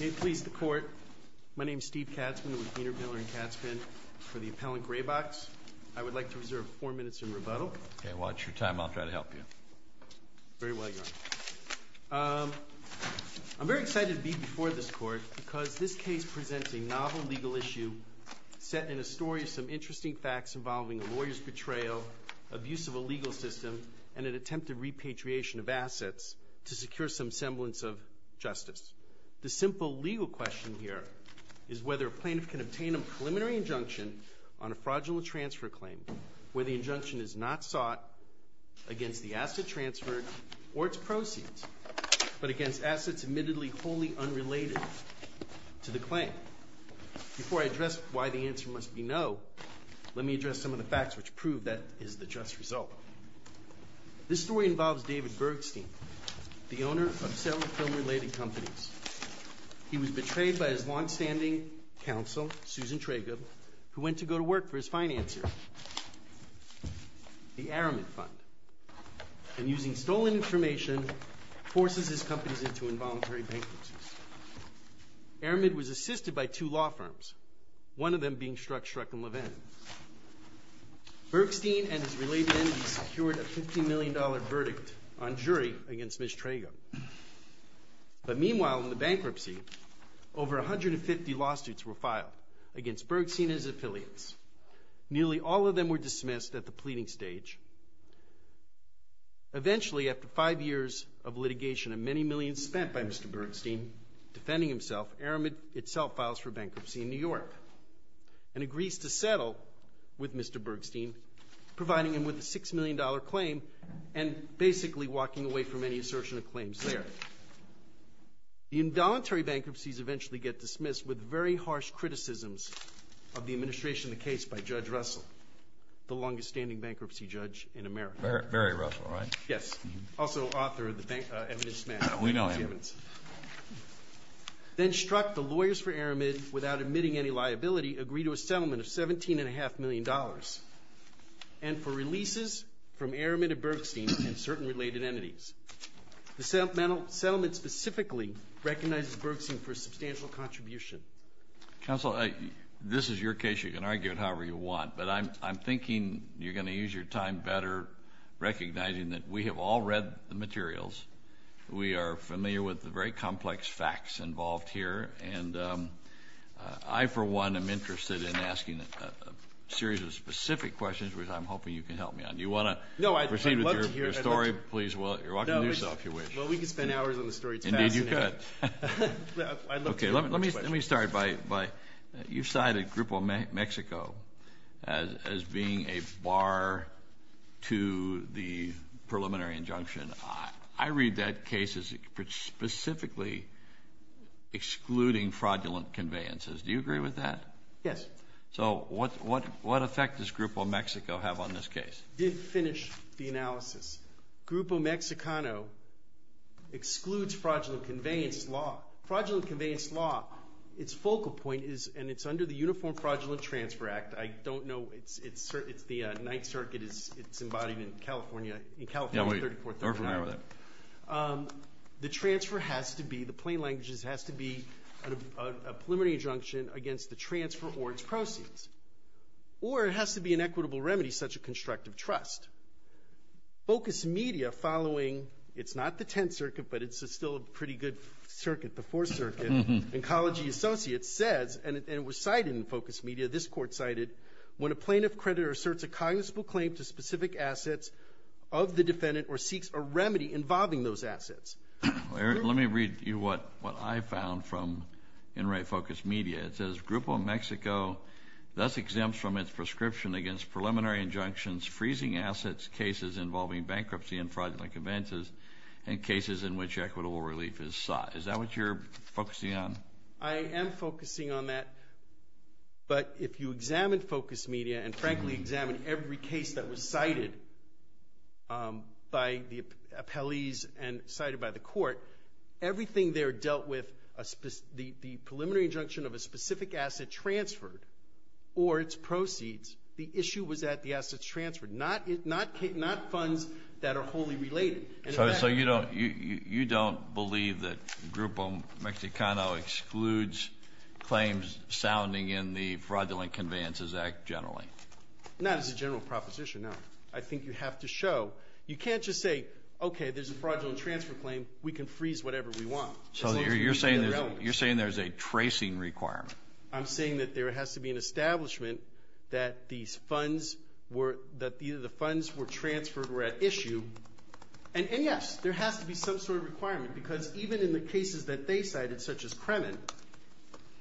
May it please the Court, my name is Steve Katzmann with Wiener Miller & Katzmann for the appellant Graybox. I would like to reserve four minutes in rebuttal. Okay, watch your time. I'll try to help you. Very well, Your Honor. I'm very excited to be before this Court because this case presents a novel legal issue set in a story of some interesting facts involving a lawyer's betrayal, abuse of a legal system, and an attempt at repatriation of assets to secure some semblance of justice. The simple legal question here is whether a plaintiff can obtain a preliminary injunction on a fraudulent transfer claim where the injunction is not sought against the asset transferred or its proceeds, but against assets admittedly wholly unrelated to the claim. Before I address why the answer must be no, let me address some of the facts which prove that is the just result. This story involves David Bergstein, the owner of several film-related companies. He was betrayed by his long-standing counsel, Susan Traigub, who went to go to work for his financier, the Aramid Fund, and using stolen information, forces his companies into involuntary bankruptcies. Aramid was assisted by two law firms, one of them being Shrug Shrug and Levin. Bergstein and his related entities secured a $50 million verdict on jury against Ms. Traigub. But meanwhile, in the bankruptcy, over 150 lawsuits were filed against Bergstein and his affiliates. Nearly all of them were dismissed at the pleading stage. Eventually, after five years of litigation and many millions spent by Mr. Bergstein defending himself, Aramid itself files for bankruptcy in New York and agrees to settle with Mr. Bergstein, providing him with a $6 million claim and basically walking away from any assertion of claims there. The involuntary bankruptcies eventually get dismissed with very harsh criticisms of the administration of the case by Judge Russell, the longest-standing bankruptcy judge in America. Barry Russell, right? Yes, also author of the evidence match. We know him. Then struck, the lawyers for Aramid, without admitting any liability, agree to a settlement of $17.5 million and for releases from Aramid and Bergstein and certain related entities. The settlement specifically recognizes Bergstein for a substantial contribution. Counsel, this is your case. You can argue it however you want. But I'm thinking you're going to use your time better recognizing that we have all read the materials. We are familiar with the very complex facts involved here. And I, for one, am interested in asking a series of specific questions, which I'm hoping you can help me on. Do you want to proceed with your story? No, I'd love to hear it. Please, you're welcome to do so if you wish. Well, we could spend hours on the story. Indeed, you could. I'd love to hear the questions. Okay, let me start by you cited Grupo Mexico as being a bar to the preliminary injunction. I read that case as specifically excluding fraudulent conveyances. Do you agree with that? Yes. So what effect does Grupo Mexico have on this case? To finish the analysis, Grupo Mexicano excludes fraudulent conveyance law. Fraudulent conveyance law, its focal point is, and it's under the Uniform Fraudulent Transfer Act. I don't know, it's the Ninth Circuit. It's embodied in California, in California 3439. Yeah, we're familiar with that. The transfer has to be, the plain language is it has to be a preliminary injunction against the transfer or its proceeds. Or it has to be an equitable remedy, such a constructive trust. Focus Media following, it's not the Tenth Circuit, but it's still a pretty good circuit, the Fourth Circuit, and Collegiate Associates says, and it was cited in Focus Media, this court cited, when a plaintiff creditor asserts a cognizable claim to specific assets of the defendant or seeks a remedy involving those assets. Let me read you what I found from, in right, Focus Media. It says, Grupo Mexico thus exempts from its prescription against preliminary injunctions, freezing assets, cases involving bankruptcy and fraudulent conveyances, and cases in which equitable relief is sought. Is that what you're focusing on? I am focusing on that, but if you examine Focus Media and frankly examine every case that was cited by the appellees and cited by the court, everything there dealt with the preliminary injunction of a specific asset transferred or its proceeds. The issue was that the assets transferred, not funds that are wholly related. So you don't believe that Grupo Mexicano excludes claims sounding in the Fraudulent Conveyances Act generally? Not as a general proposition, no. I think you have to show. You can't just say, okay, there's a fraudulent transfer claim. We can freeze whatever we want. So you're saying there's a tracing requirement? I'm saying that there has to be an establishment that these funds were, that the funds were transferred were at issue. And, yes, there has to be some sort of requirement because even in the cases that they cited, such as Kremen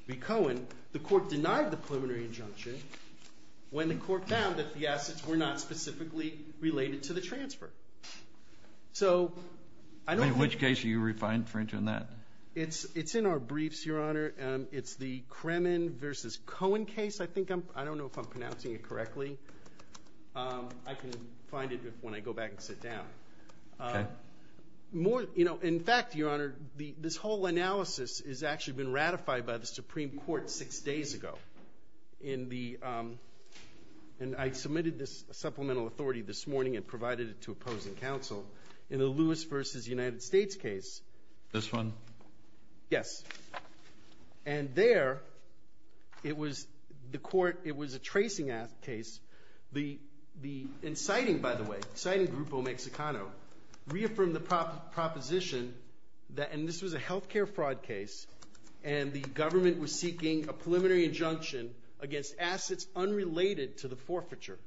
v. Cohen, the court denied the preliminary injunction when the court found that the assets were not specifically related to the transfer. So I don't think. In which case are you referring to in that? It's in our briefs, Your Honor. It's the Kremen v. Cohen case, I think. I don't know if I'm pronouncing it correctly. I can find it when I go back and sit down. Okay. More, you know, in fact, Your Honor, this whole analysis has actually been ratified by the Supreme Court six days ago. In the, and I submitted this supplemental authority this morning and provided it to opposing counsel. In the Lewis v. United States case. This one? Yes. And there, it was the court, it was a tracing case. The, in citing, by the way, citing Grupo Mexicano, reaffirmed the proposition that, and this was a health care fraud case, and the government was seeking a preliminary injunction against assets unrelated to the forfeiture.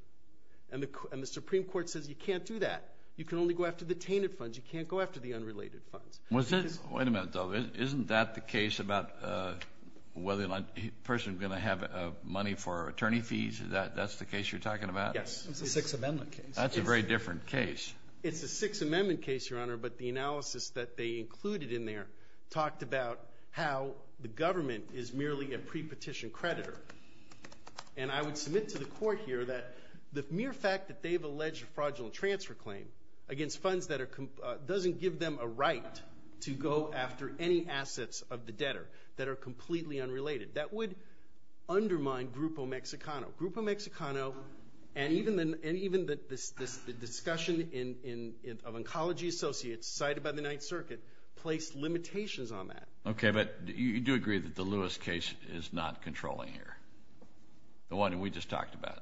And the Supreme Court says you can't do that. You can only go after the tainted funds. You can't go after the unrelated funds. Wait a minute, though. Isn't that the case about whether a person's going to have money for attorney fees? That's the case you're talking about? Yes. It's a Sixth Amendment case. That's a very different case. It's a Sixth Amendment case, Your Honor, but the analysis that they included in there talked about how the government is merely a prepetition creditor. And I would submit to the court here that the mere fact that they've alleged a fraudulent transfer claim against funds that are, doesn't give them a right to go after any assets of the debtor that are completely unrelated. That would undermine Grupo Mexicano. Grupo Mexicano and even the discussion of oncology associates cited by the Ninth Circuit placed limitations on that. Okay, but you do agree that the Lewis case is not controlling here, the one we just talked about?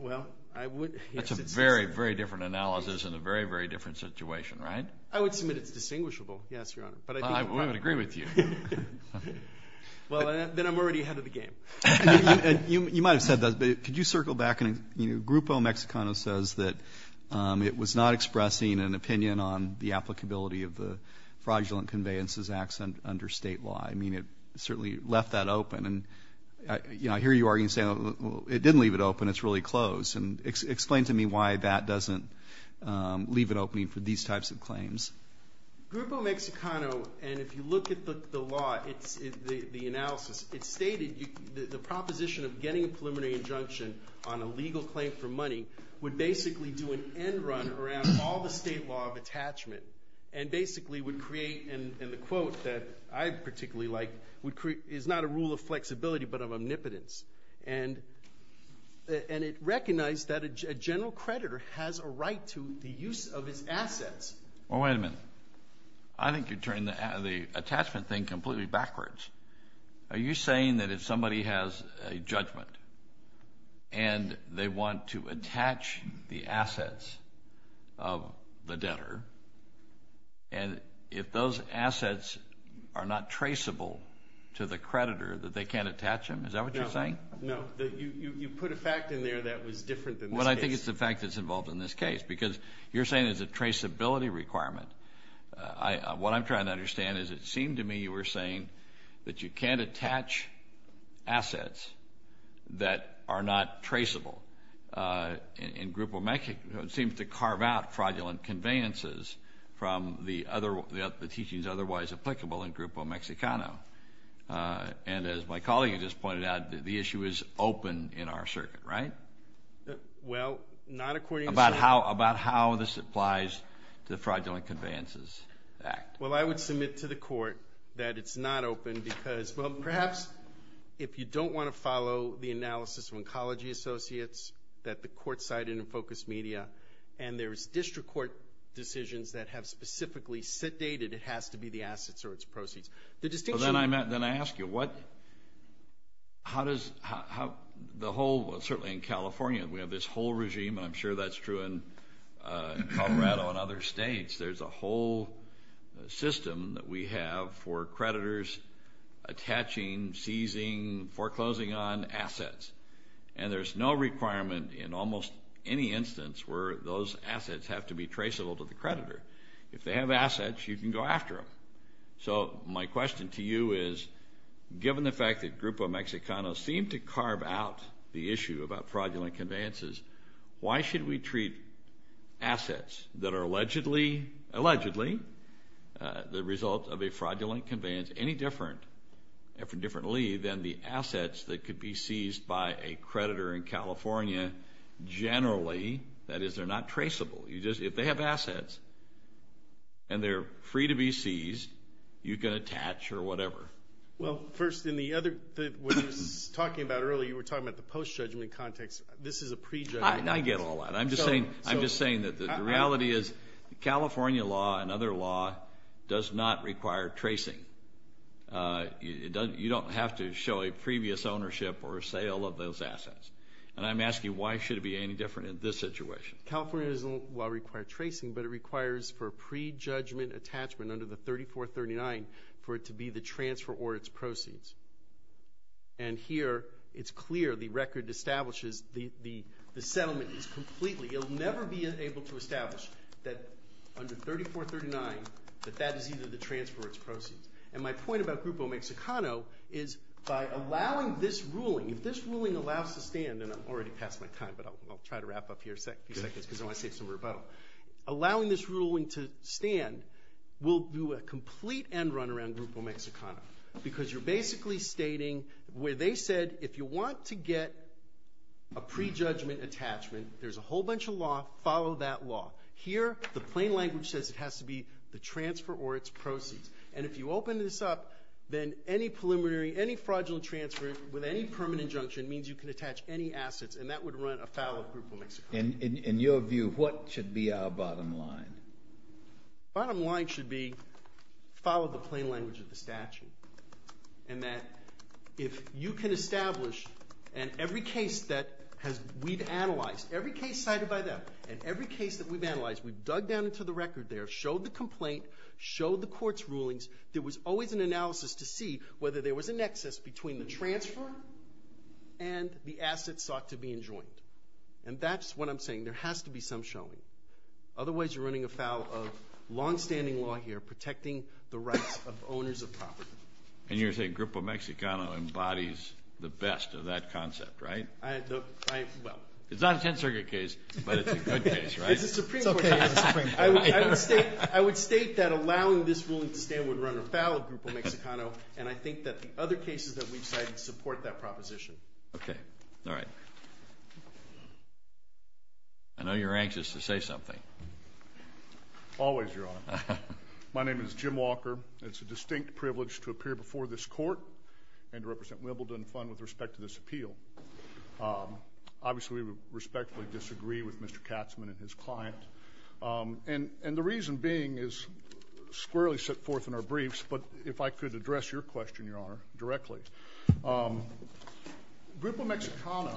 Well, I would. That's a very, very different analysis and a very, very different situation, right? I would submit it's distinguishable, yes, Your Honor. We would agree with you. Well, then I'm already ahead of the game. You might have said that, but could you circle back? Grupo Mexicano says that it was not expressing an opinion on the applicability of the fraudulent conveyances acts under State law. I mean, it certainly left that open. And, you know, I hear you arguing, saying, well, it didn't leave it open. It's really closed. And explain to me why that doesn't leave it open for these types of claims. Grupo Mexicano, and if you look at the law, the analysis, it stated the proposition of getting a preliminary injunction on a legal claim for money would basically do an end run around all the State law of attachment and basically would create, and the quote that I particularly like, is not a rule of flexibility but of omnipotence. And it recognized that a general creditor has a right to the use of his assets. Well, wait a minute. I think you're turning the attachment thing completely backwards. Are you saying that if somebody has a judgment and they want to attach the assets of the debtor, and if those assets are not traceable to the creditor, that they can't attach them? Is that what you're saying? No. You put a fact in there that was different than this case. Well, I think it's the fact that's involved in this case because you're saying there's a traceability requirement. What I'm trying to understand is it seemed to me you were saying that you can't attach assets that are not traceable. And Grupo Mexicano seems to carve out fraudulent conveyances from the teachings otherwise applicable in Grupo Mexicano. And as my colleague has just pointed out, the issue is open in our circuit, right? Well, not according to the circuit. About how this applies to the Fraudulent Conveyances Act. Well, I would submit to the court that it's not open because, well, perhaps if you don't want to follow the analysis of Oncology Associates that the court cited in Focus Media, and there's district court decisions that have specifically sedated it has to be the assets or its proceeds. Then I ask you, how does the whole, certainly in California, we have this whole regime, and I'm sure that's true in Colorado and other states, there's a whole system that we have for creditors attaching, seizing, foreclosing on assets. And there's no requirement in almost any instance where those assets have to be traceable to the creditor. If they have assets, you can go after them. So my question to you is, given the fact that Grupo Mexicano seemed to carve out the issue about fraudulent conveyances, why should we treat assets that are allegedly the result of a fraudulent conveyance any differently than the assets that could be seized by a creditor in California generally? That is, they're not traceable. If they have assets and they're free to be seized, you can attach or whatever. Well, first, in the other, what you were talking about earlier, you were talking about the post-judgment context. This is a prejudgment. I get all that. I'm just saying that the reality is California law and other law does not require tracing. You don't have to show a previous ownership or sale of those assets. And I'm asking, why should it be any different in this situation? California doesn't require tracing, but it requires for a prejudgment attachment under the 3439 for it to be the transfer or its proceeds. And here it's clear the record establishes the settlement is completely. You'll never be able to establish that under 3439, that that is either the transfer or its proceeds. And my point about Grupo Mexicano is by allowing this ruling, if this ruling allows to stand, and I'm already past my time, but I'll try to wrap up here in a few seconds because I want to say some rebuttal. Allowing this ruling to stand will do a complete end run around Grupo Mexicano because you're basically stating where they said if you want to get a prejudgment attachment, there's a whole bunch of law, follow that law. Here, the plain language says it has to be the transfer or its proceeds. And if you open this up, then any preliminary, any fraudulent transfer with any permanent injunction means you can attach any assets, and that would run afoul of Grupo Mexicano. In your view, what should be our bottom line? Bottom line should be follow the plain language of the statute, and that if you can establish, and every case that we've analyzed, every case cited by them and every case that we've analyzed, we've dug down into the record there, showed the complaint, showed the court's rulings. There was always an analysis to see whether there was a nexus between the transfer and the assets sought to be enjoined. And that's what I'm saying. There has to be some showing. Otherwise, you're running afoul of longstanding law here, protecting the rights of owners of property. And you're saying Grupo Mexicano embodies the best of that concept, right? It's not a 10th Circuit case, but it's a good case, right? It's a Supreme Court case. I would state that allowing this ruling to stand would run afoul of Grupo Mexicano, and I think that the other cases that we've cited support that proposition. Okay. All right. I know you're anxious to say something. Always, Your Honor. My name is Jim Walker. It's a distinct privilege to appear before this court and to represent Wimbledon Fund with respect to this appeal. Obviously, we respectfully disagree with Mr. Katzmann and his client, and the reason being is squarely set forth in our briefs, but if I could address your question, Your Honor, directly. Grupo Mexicano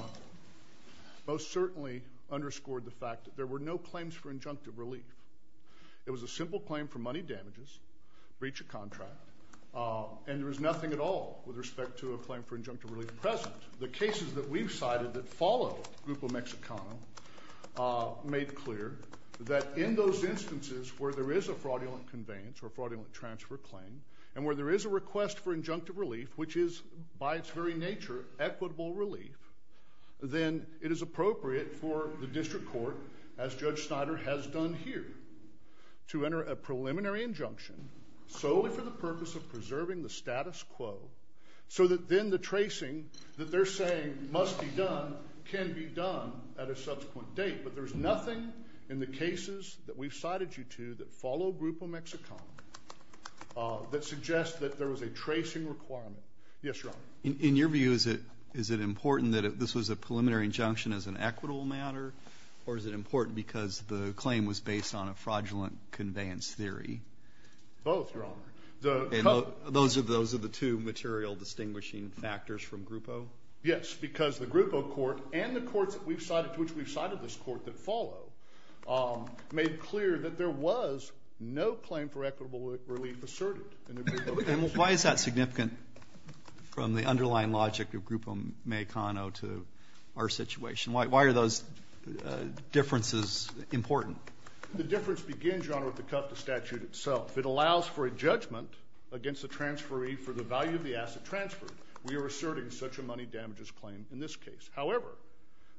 most certainly underscored the fact that there were no claims for injunctive relief. It was a simple claim for money damages, breach of contract, and there was nothing at all with respect to a claim for injunctive relief present. The cases that we've cited that follow Grupo Mexicano made clear that in those instances where there is a fraudulent conveyance or fraudulent transfer claim and where there is a request for injunctive relief, which is by its very nature equitable relief, then it is appropriate for the district court, as Judge Snyder has done here, to enter a preliminary injunction solely for the purpose of preserving the status quo so that then the tracing that they're saying must be done can be done at a subsequent date, but there's nothing in the cases that we've cited you to that follow Grupo Mexicano that suggests that there was a tracing requirement. Yes, Your Honor. In your view, is it important that this was a preliminary injunction as an equitable matter, or is it important because the claim was based on a fraudulent conveyance theory? Both, Your Honor. Those are the two material distinguishing factors from Grupo? Yes, because the Grupo court and the courts to which we've cited this court that follow made clear that there was no claim for equitable relief asserted in the Grupo case. And why is that significant from the underlying logic of Grupo Mexicano to our situation? Why are those differences important? The difference begins, Your Honor, with the cut of the statute itself. It allows for a judgment against the transferee for the value of the asset transferred. We are asserting such a money damages claim in this case. However,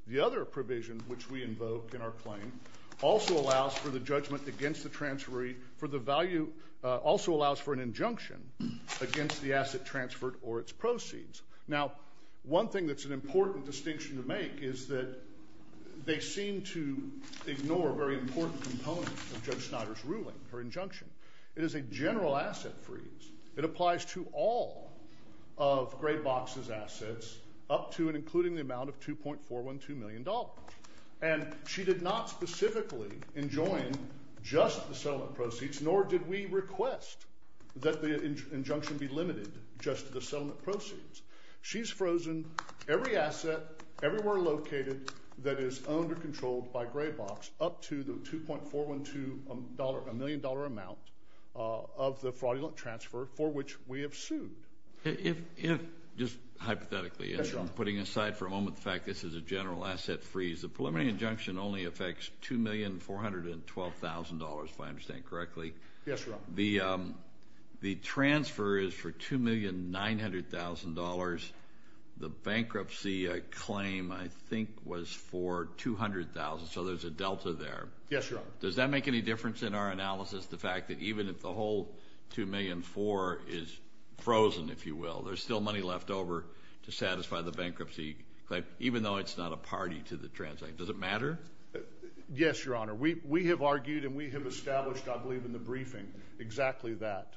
the other provision which we invoke in our claim also allows for the judgment against the transferee for the value also allows for an injunction against the asset transferred or its proceeds. Now, one thing that's an important distinction to make is that they seem to ignore a very important component of Judge Snyder's ruling, her injunction. It is a general asset freeze. It applies to all of Graybox's assets up to and including the amount of $2.412 million. And she did not specifically enjoin just the settlement proceeds, nor did we request that the injunction be limited just to the settlement proceeds. She's frozen every asset everywhere located that is owned or controlled by Graybox up to the $2.412 million amount of the fraudulent transfer for which we have sued. If, just hypothetically, putting aside for a moment the fact this is a general asset freeze, the preliminary injunction only affects $2,412,000, if I understand correctly. Yes, Your Honor. The transfer is for $2,900,000. The bankruptcy claim, I think, was for $200,000. So there's a delta there. Yes, Your Honor. Does that make any difference in our analysis, the fact that even if the whole $2,400,000 is frozen, if you will, there's still money left over to satisfy the bankruptcy claim, even though it's not a party to the transaction? Does it matter? Yes, Your Honor. We have argued and we have established, I believe, in the briefing exactly that.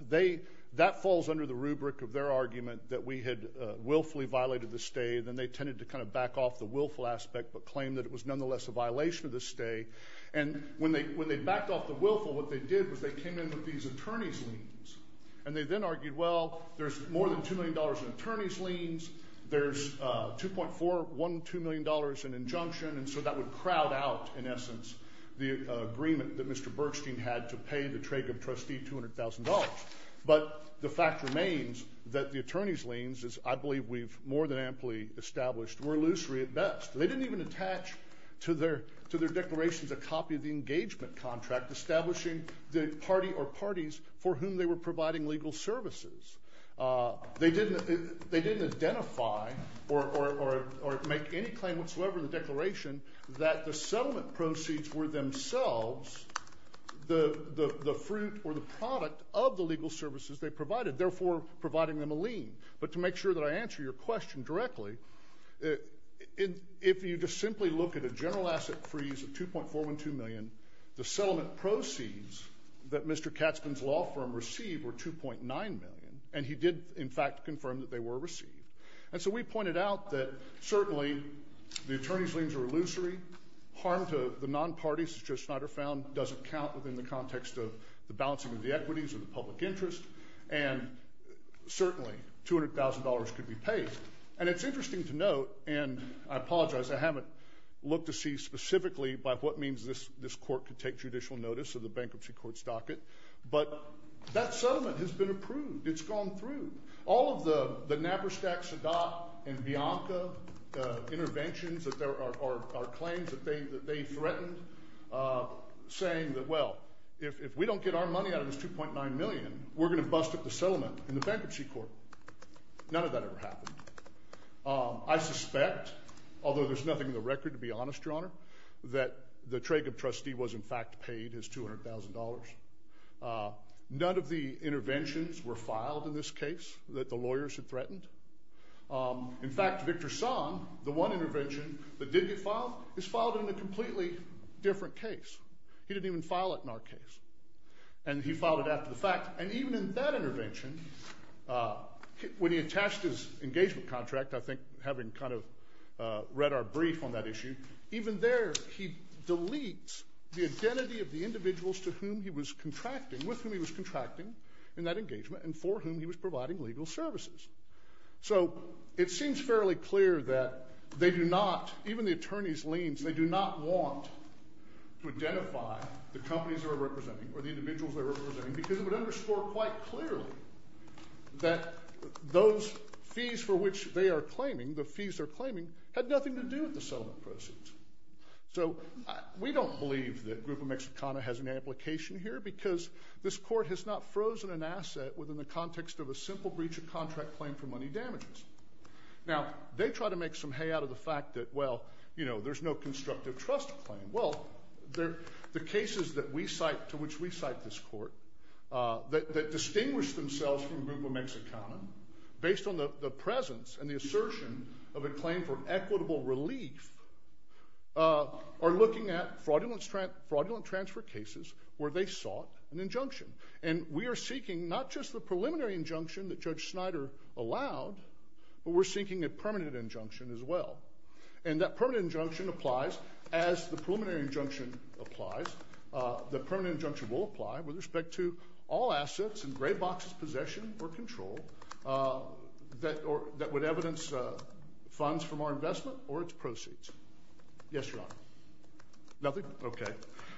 That falls under the rubric of their argument that we had willfully violated the stay. Then they tended to kind of back off the willful aspect but claim that it was nonetheless a violation of the stay. And when they backed off the willful, what they did was they came in with these attorney's liens. And they then argued, well, there's more than $2 million in attorney's liens. There's $2.412 million in injunction. And so that would crowd out, in essence, the agreement that Mr. Bergstein had to pay the Trager trustee $200,000. But the fact remains that the attorney's liens, as I believe we've more than amply established, were illusory at best. They didn't even attach to their declarations a copy of the engagement contract establishing the party or parties for whom they were providing legal services. They didn't identify or make any claim whatsoever in the declaration that the settlement proceeds were themselves the fruit or the product of the legal services they provided, therefore providing them a lien. But to make sure that I answer your question directly, if you just simply look at a general asset freeze of $2.412 million, the settlement proceeds that Mr. Katzmann's law firm received were $2.9 million. And he did, in fact, confirm that they were received. And so we pointed out that certainly the attorney's liens are illusory. Harm to the non-parties, as Joe Snyder found, doesn't count within the context of the balancing of the equities or the public interest. And it's interesting to note, and I apologize, I haven't looked to see specifically by what means this court could take judicial notice of the bankruptcy court's docket. But that settlement has been approved. It's gone through. All of the Knapperstack, Sadat, and Bianca interventions or claims that they threatened saying that, well, if we don't get our money out of this $2.9 million, we're going to bust up the settlement in the bankruptcy court. None of that ever happened. I suspect, although there's nothing in the record to be honest, Your Honor, that the Traigub trustee was in fact paid his $200,000. None of the interventions were filed in this case that the lawyers had threatened. In fact, Victor Song, the one intervention that did get filed, is filed in a completely different case. He didn't even file it in our case. And he filed it after the fact. And even in that intervention, when he attached his engagement contract, I think having kind of read our brief on that issue, even there he deletes the identity of the individuals to whom he was contracting, with whom he was contracting in that engagement, and for whom he was providing legal services. So it seems fairly clear that they do not, even the attorneys' liens, they do not want to identify the companies they're representing or the individuals they're representing because it would underscore quite clearly that those fees for which they are claiming, the fees they're claiming, had nothing to do with the settlement proceeds. So we don't believe that Grupo Mexicana has an application here because this court has not frozen an asset within the context of a simple breach of contract claim for money damages. Now, they try to make some hay out of the fact that, well, you know, there's no constructive trust claim. Well, the cases to which we cite this court that distinguish themselves from Grupo Mexicana, based on the presence and the assertion of a claim for equitable relief, are looking at fraudulent transfer cases where they sought an injunction. And we are seeking not just the preliminary injunction that Judge Snyder allowed, but we're seeking a permanent injunction as well. And that permanent injunction applies as the preliminary injunction applies. The permanent injunction will apply with respect to all assets in Graybox's possession or control that would evidence funds from our investment or its proceeds. Yes, Your Honor. Nothing? Okay.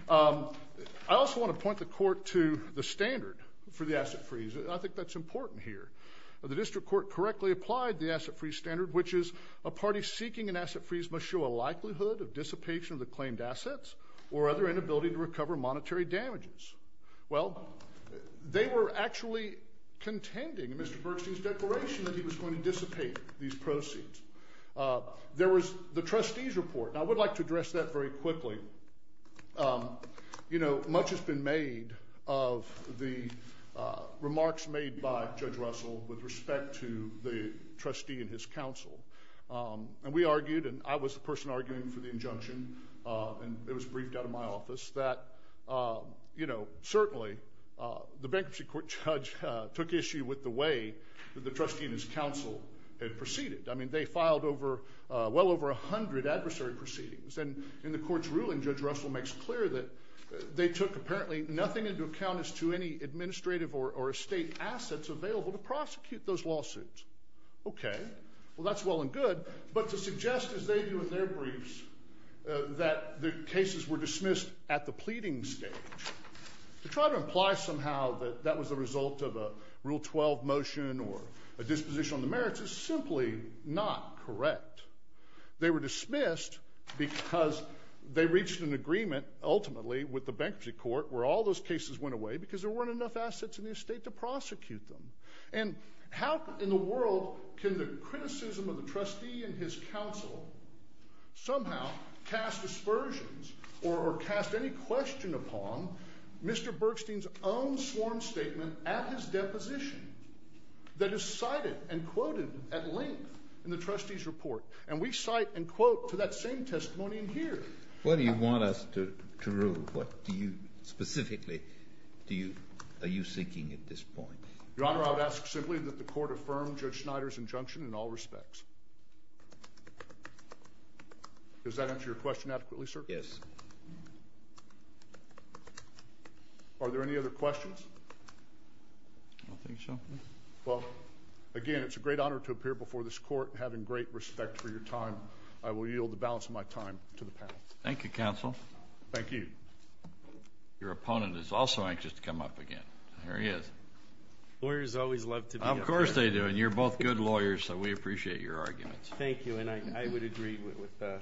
I also want to point the court to the standard for the asset freeze. I think that's important here. The district court correctly applied the asset freeze standard, which is a party seeking an asset freeze must show a likelihood of dissipation of the claimed assets or other inability to recover monetary damages. Well, they were actually contending in Mr. Bergstein's declaration that he was going to dissipate these proceeds. There was the trustee's report. And I would like to address that very quickly. You know, much has been made of the remarks made by Judge Russell with respect to the trustee and his counsel. And we argued, and I was the person arguing for the injunction, and it was briefed out of my office, that, you know, certainly the bankruptcy court judge took issue with the way that the trustee and his counsel had proceeded. I mean, they filed well over 100 adversary proceedings. And in the court's ruling, Judge Russell makes clear that they took apparently nothing into account as to any administrative or estate assets available to prosecute those lawsuits. Okay. Well, that's well and good. But to suggest, as they do in their briefs, that the cases were dismissed at the pleading stage, to try to imply somehow that that was a result of a Rule 12 motion or a disposition on the merits is simply not correct. They were dismissed because they reached an agreement, ultimately, with the bankruptcy court where all those cases went away because there weren't enough assets in the estate to prosecute them. And how in the world can the criticism of the trustee and his counsel somehow cast aspersions or cast any question upon Mr. Bergstein's own sworn statement at his deposition that is cited and quoted at length in the trustee's report? And we cite and quote to that same testimony in here. What do you want us to rule? What do you specifically are you seeking at this point? Your Honor, I would ask simply that the court affirm Judge Schneider's injunction in all respects. Does that answer your question adequately, sir? Yes. Are there any other questions? I don't think so. Well, again, it's a great honor to appear before this court. Having great respect for your time, I will yield the balance of my time to the panel. Thank you, counsel. Thank you. Your opponent is also anxious to come up again. There he is. Lawyers always love to be up here. Of course they do. And you're both good lawyers, so we appreciate your arguments. Thank you. And I would agree with the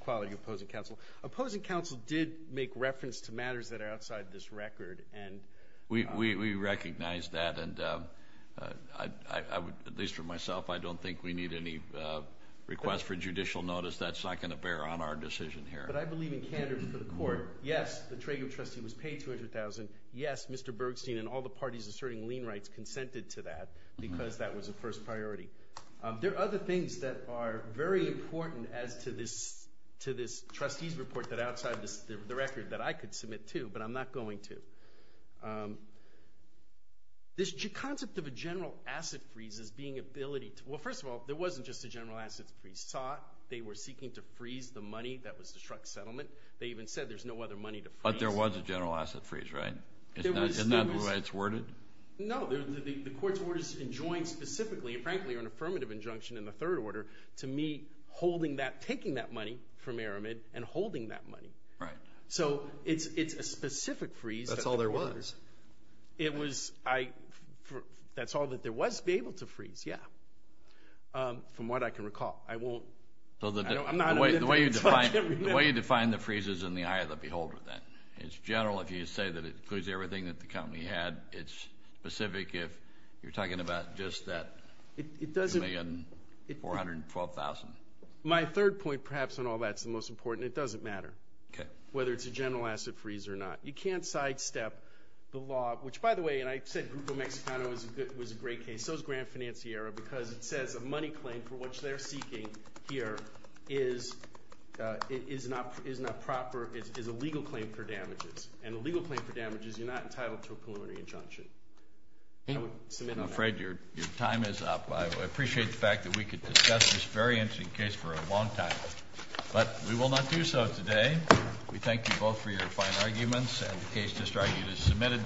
quality of opposing counsel. Opposing counsel did make reference to matters that are outside this record. We recognize that. And at least for myself, I don't think we need any request for judicial notice. That's not going to bear on our decision here. But I believe in candor for the court. Yes, the Trager trustee was paid $200,000. Yes, Mr. Bergstein and all the parties asserting lien rights consented to that because that was a first priority. There are other things that are very important as to this trustee's report that are outside the record that I could submit to, but I'm not going to. This concept of a general asset freeze as being ability to – well, first of all, there wasn't just a general asset freeze. We saw it. They were seeking to freeze the money that was the truck settlement. They even said there's no other money to freeze. But there was a general asset freeze, right? Isn't that the way it's worded? No. The court's orders enjoined specifically, and frankly are an affirmative injunction in the third order, to me holding that – taking that money from Aramid and holding that money. Right. So it's a specific freeze. That's all there was. It was – that's all that there was to be able to freeze, yeah. From what I can recall. I won't – I'm not – The way you define the freeze is in the eye of the beholder, then. It's general if you say that it includes everything that the company had. It's specific if you're talking about just that $2,412,000. My third point, perhaps, on all that is the most important. It doesn't matter whether it's a general asset freeze or not. You can't sidestep the law, which, by the way, and I said Grupo Mexicano was a great case. And so is Gran Financiera because it says a money claim for which they're seeking here is not proper. It's a legal claim for damages. And a legal claim for damages, you're not entitled to a preliminary injunction. I would submit on that. I'm afraid your time is up. I appreciate the fact that we could discuss this very interesting case for a long time. But we will not do so today. We thank you both for your fine arguments, and the case just argued is submitted.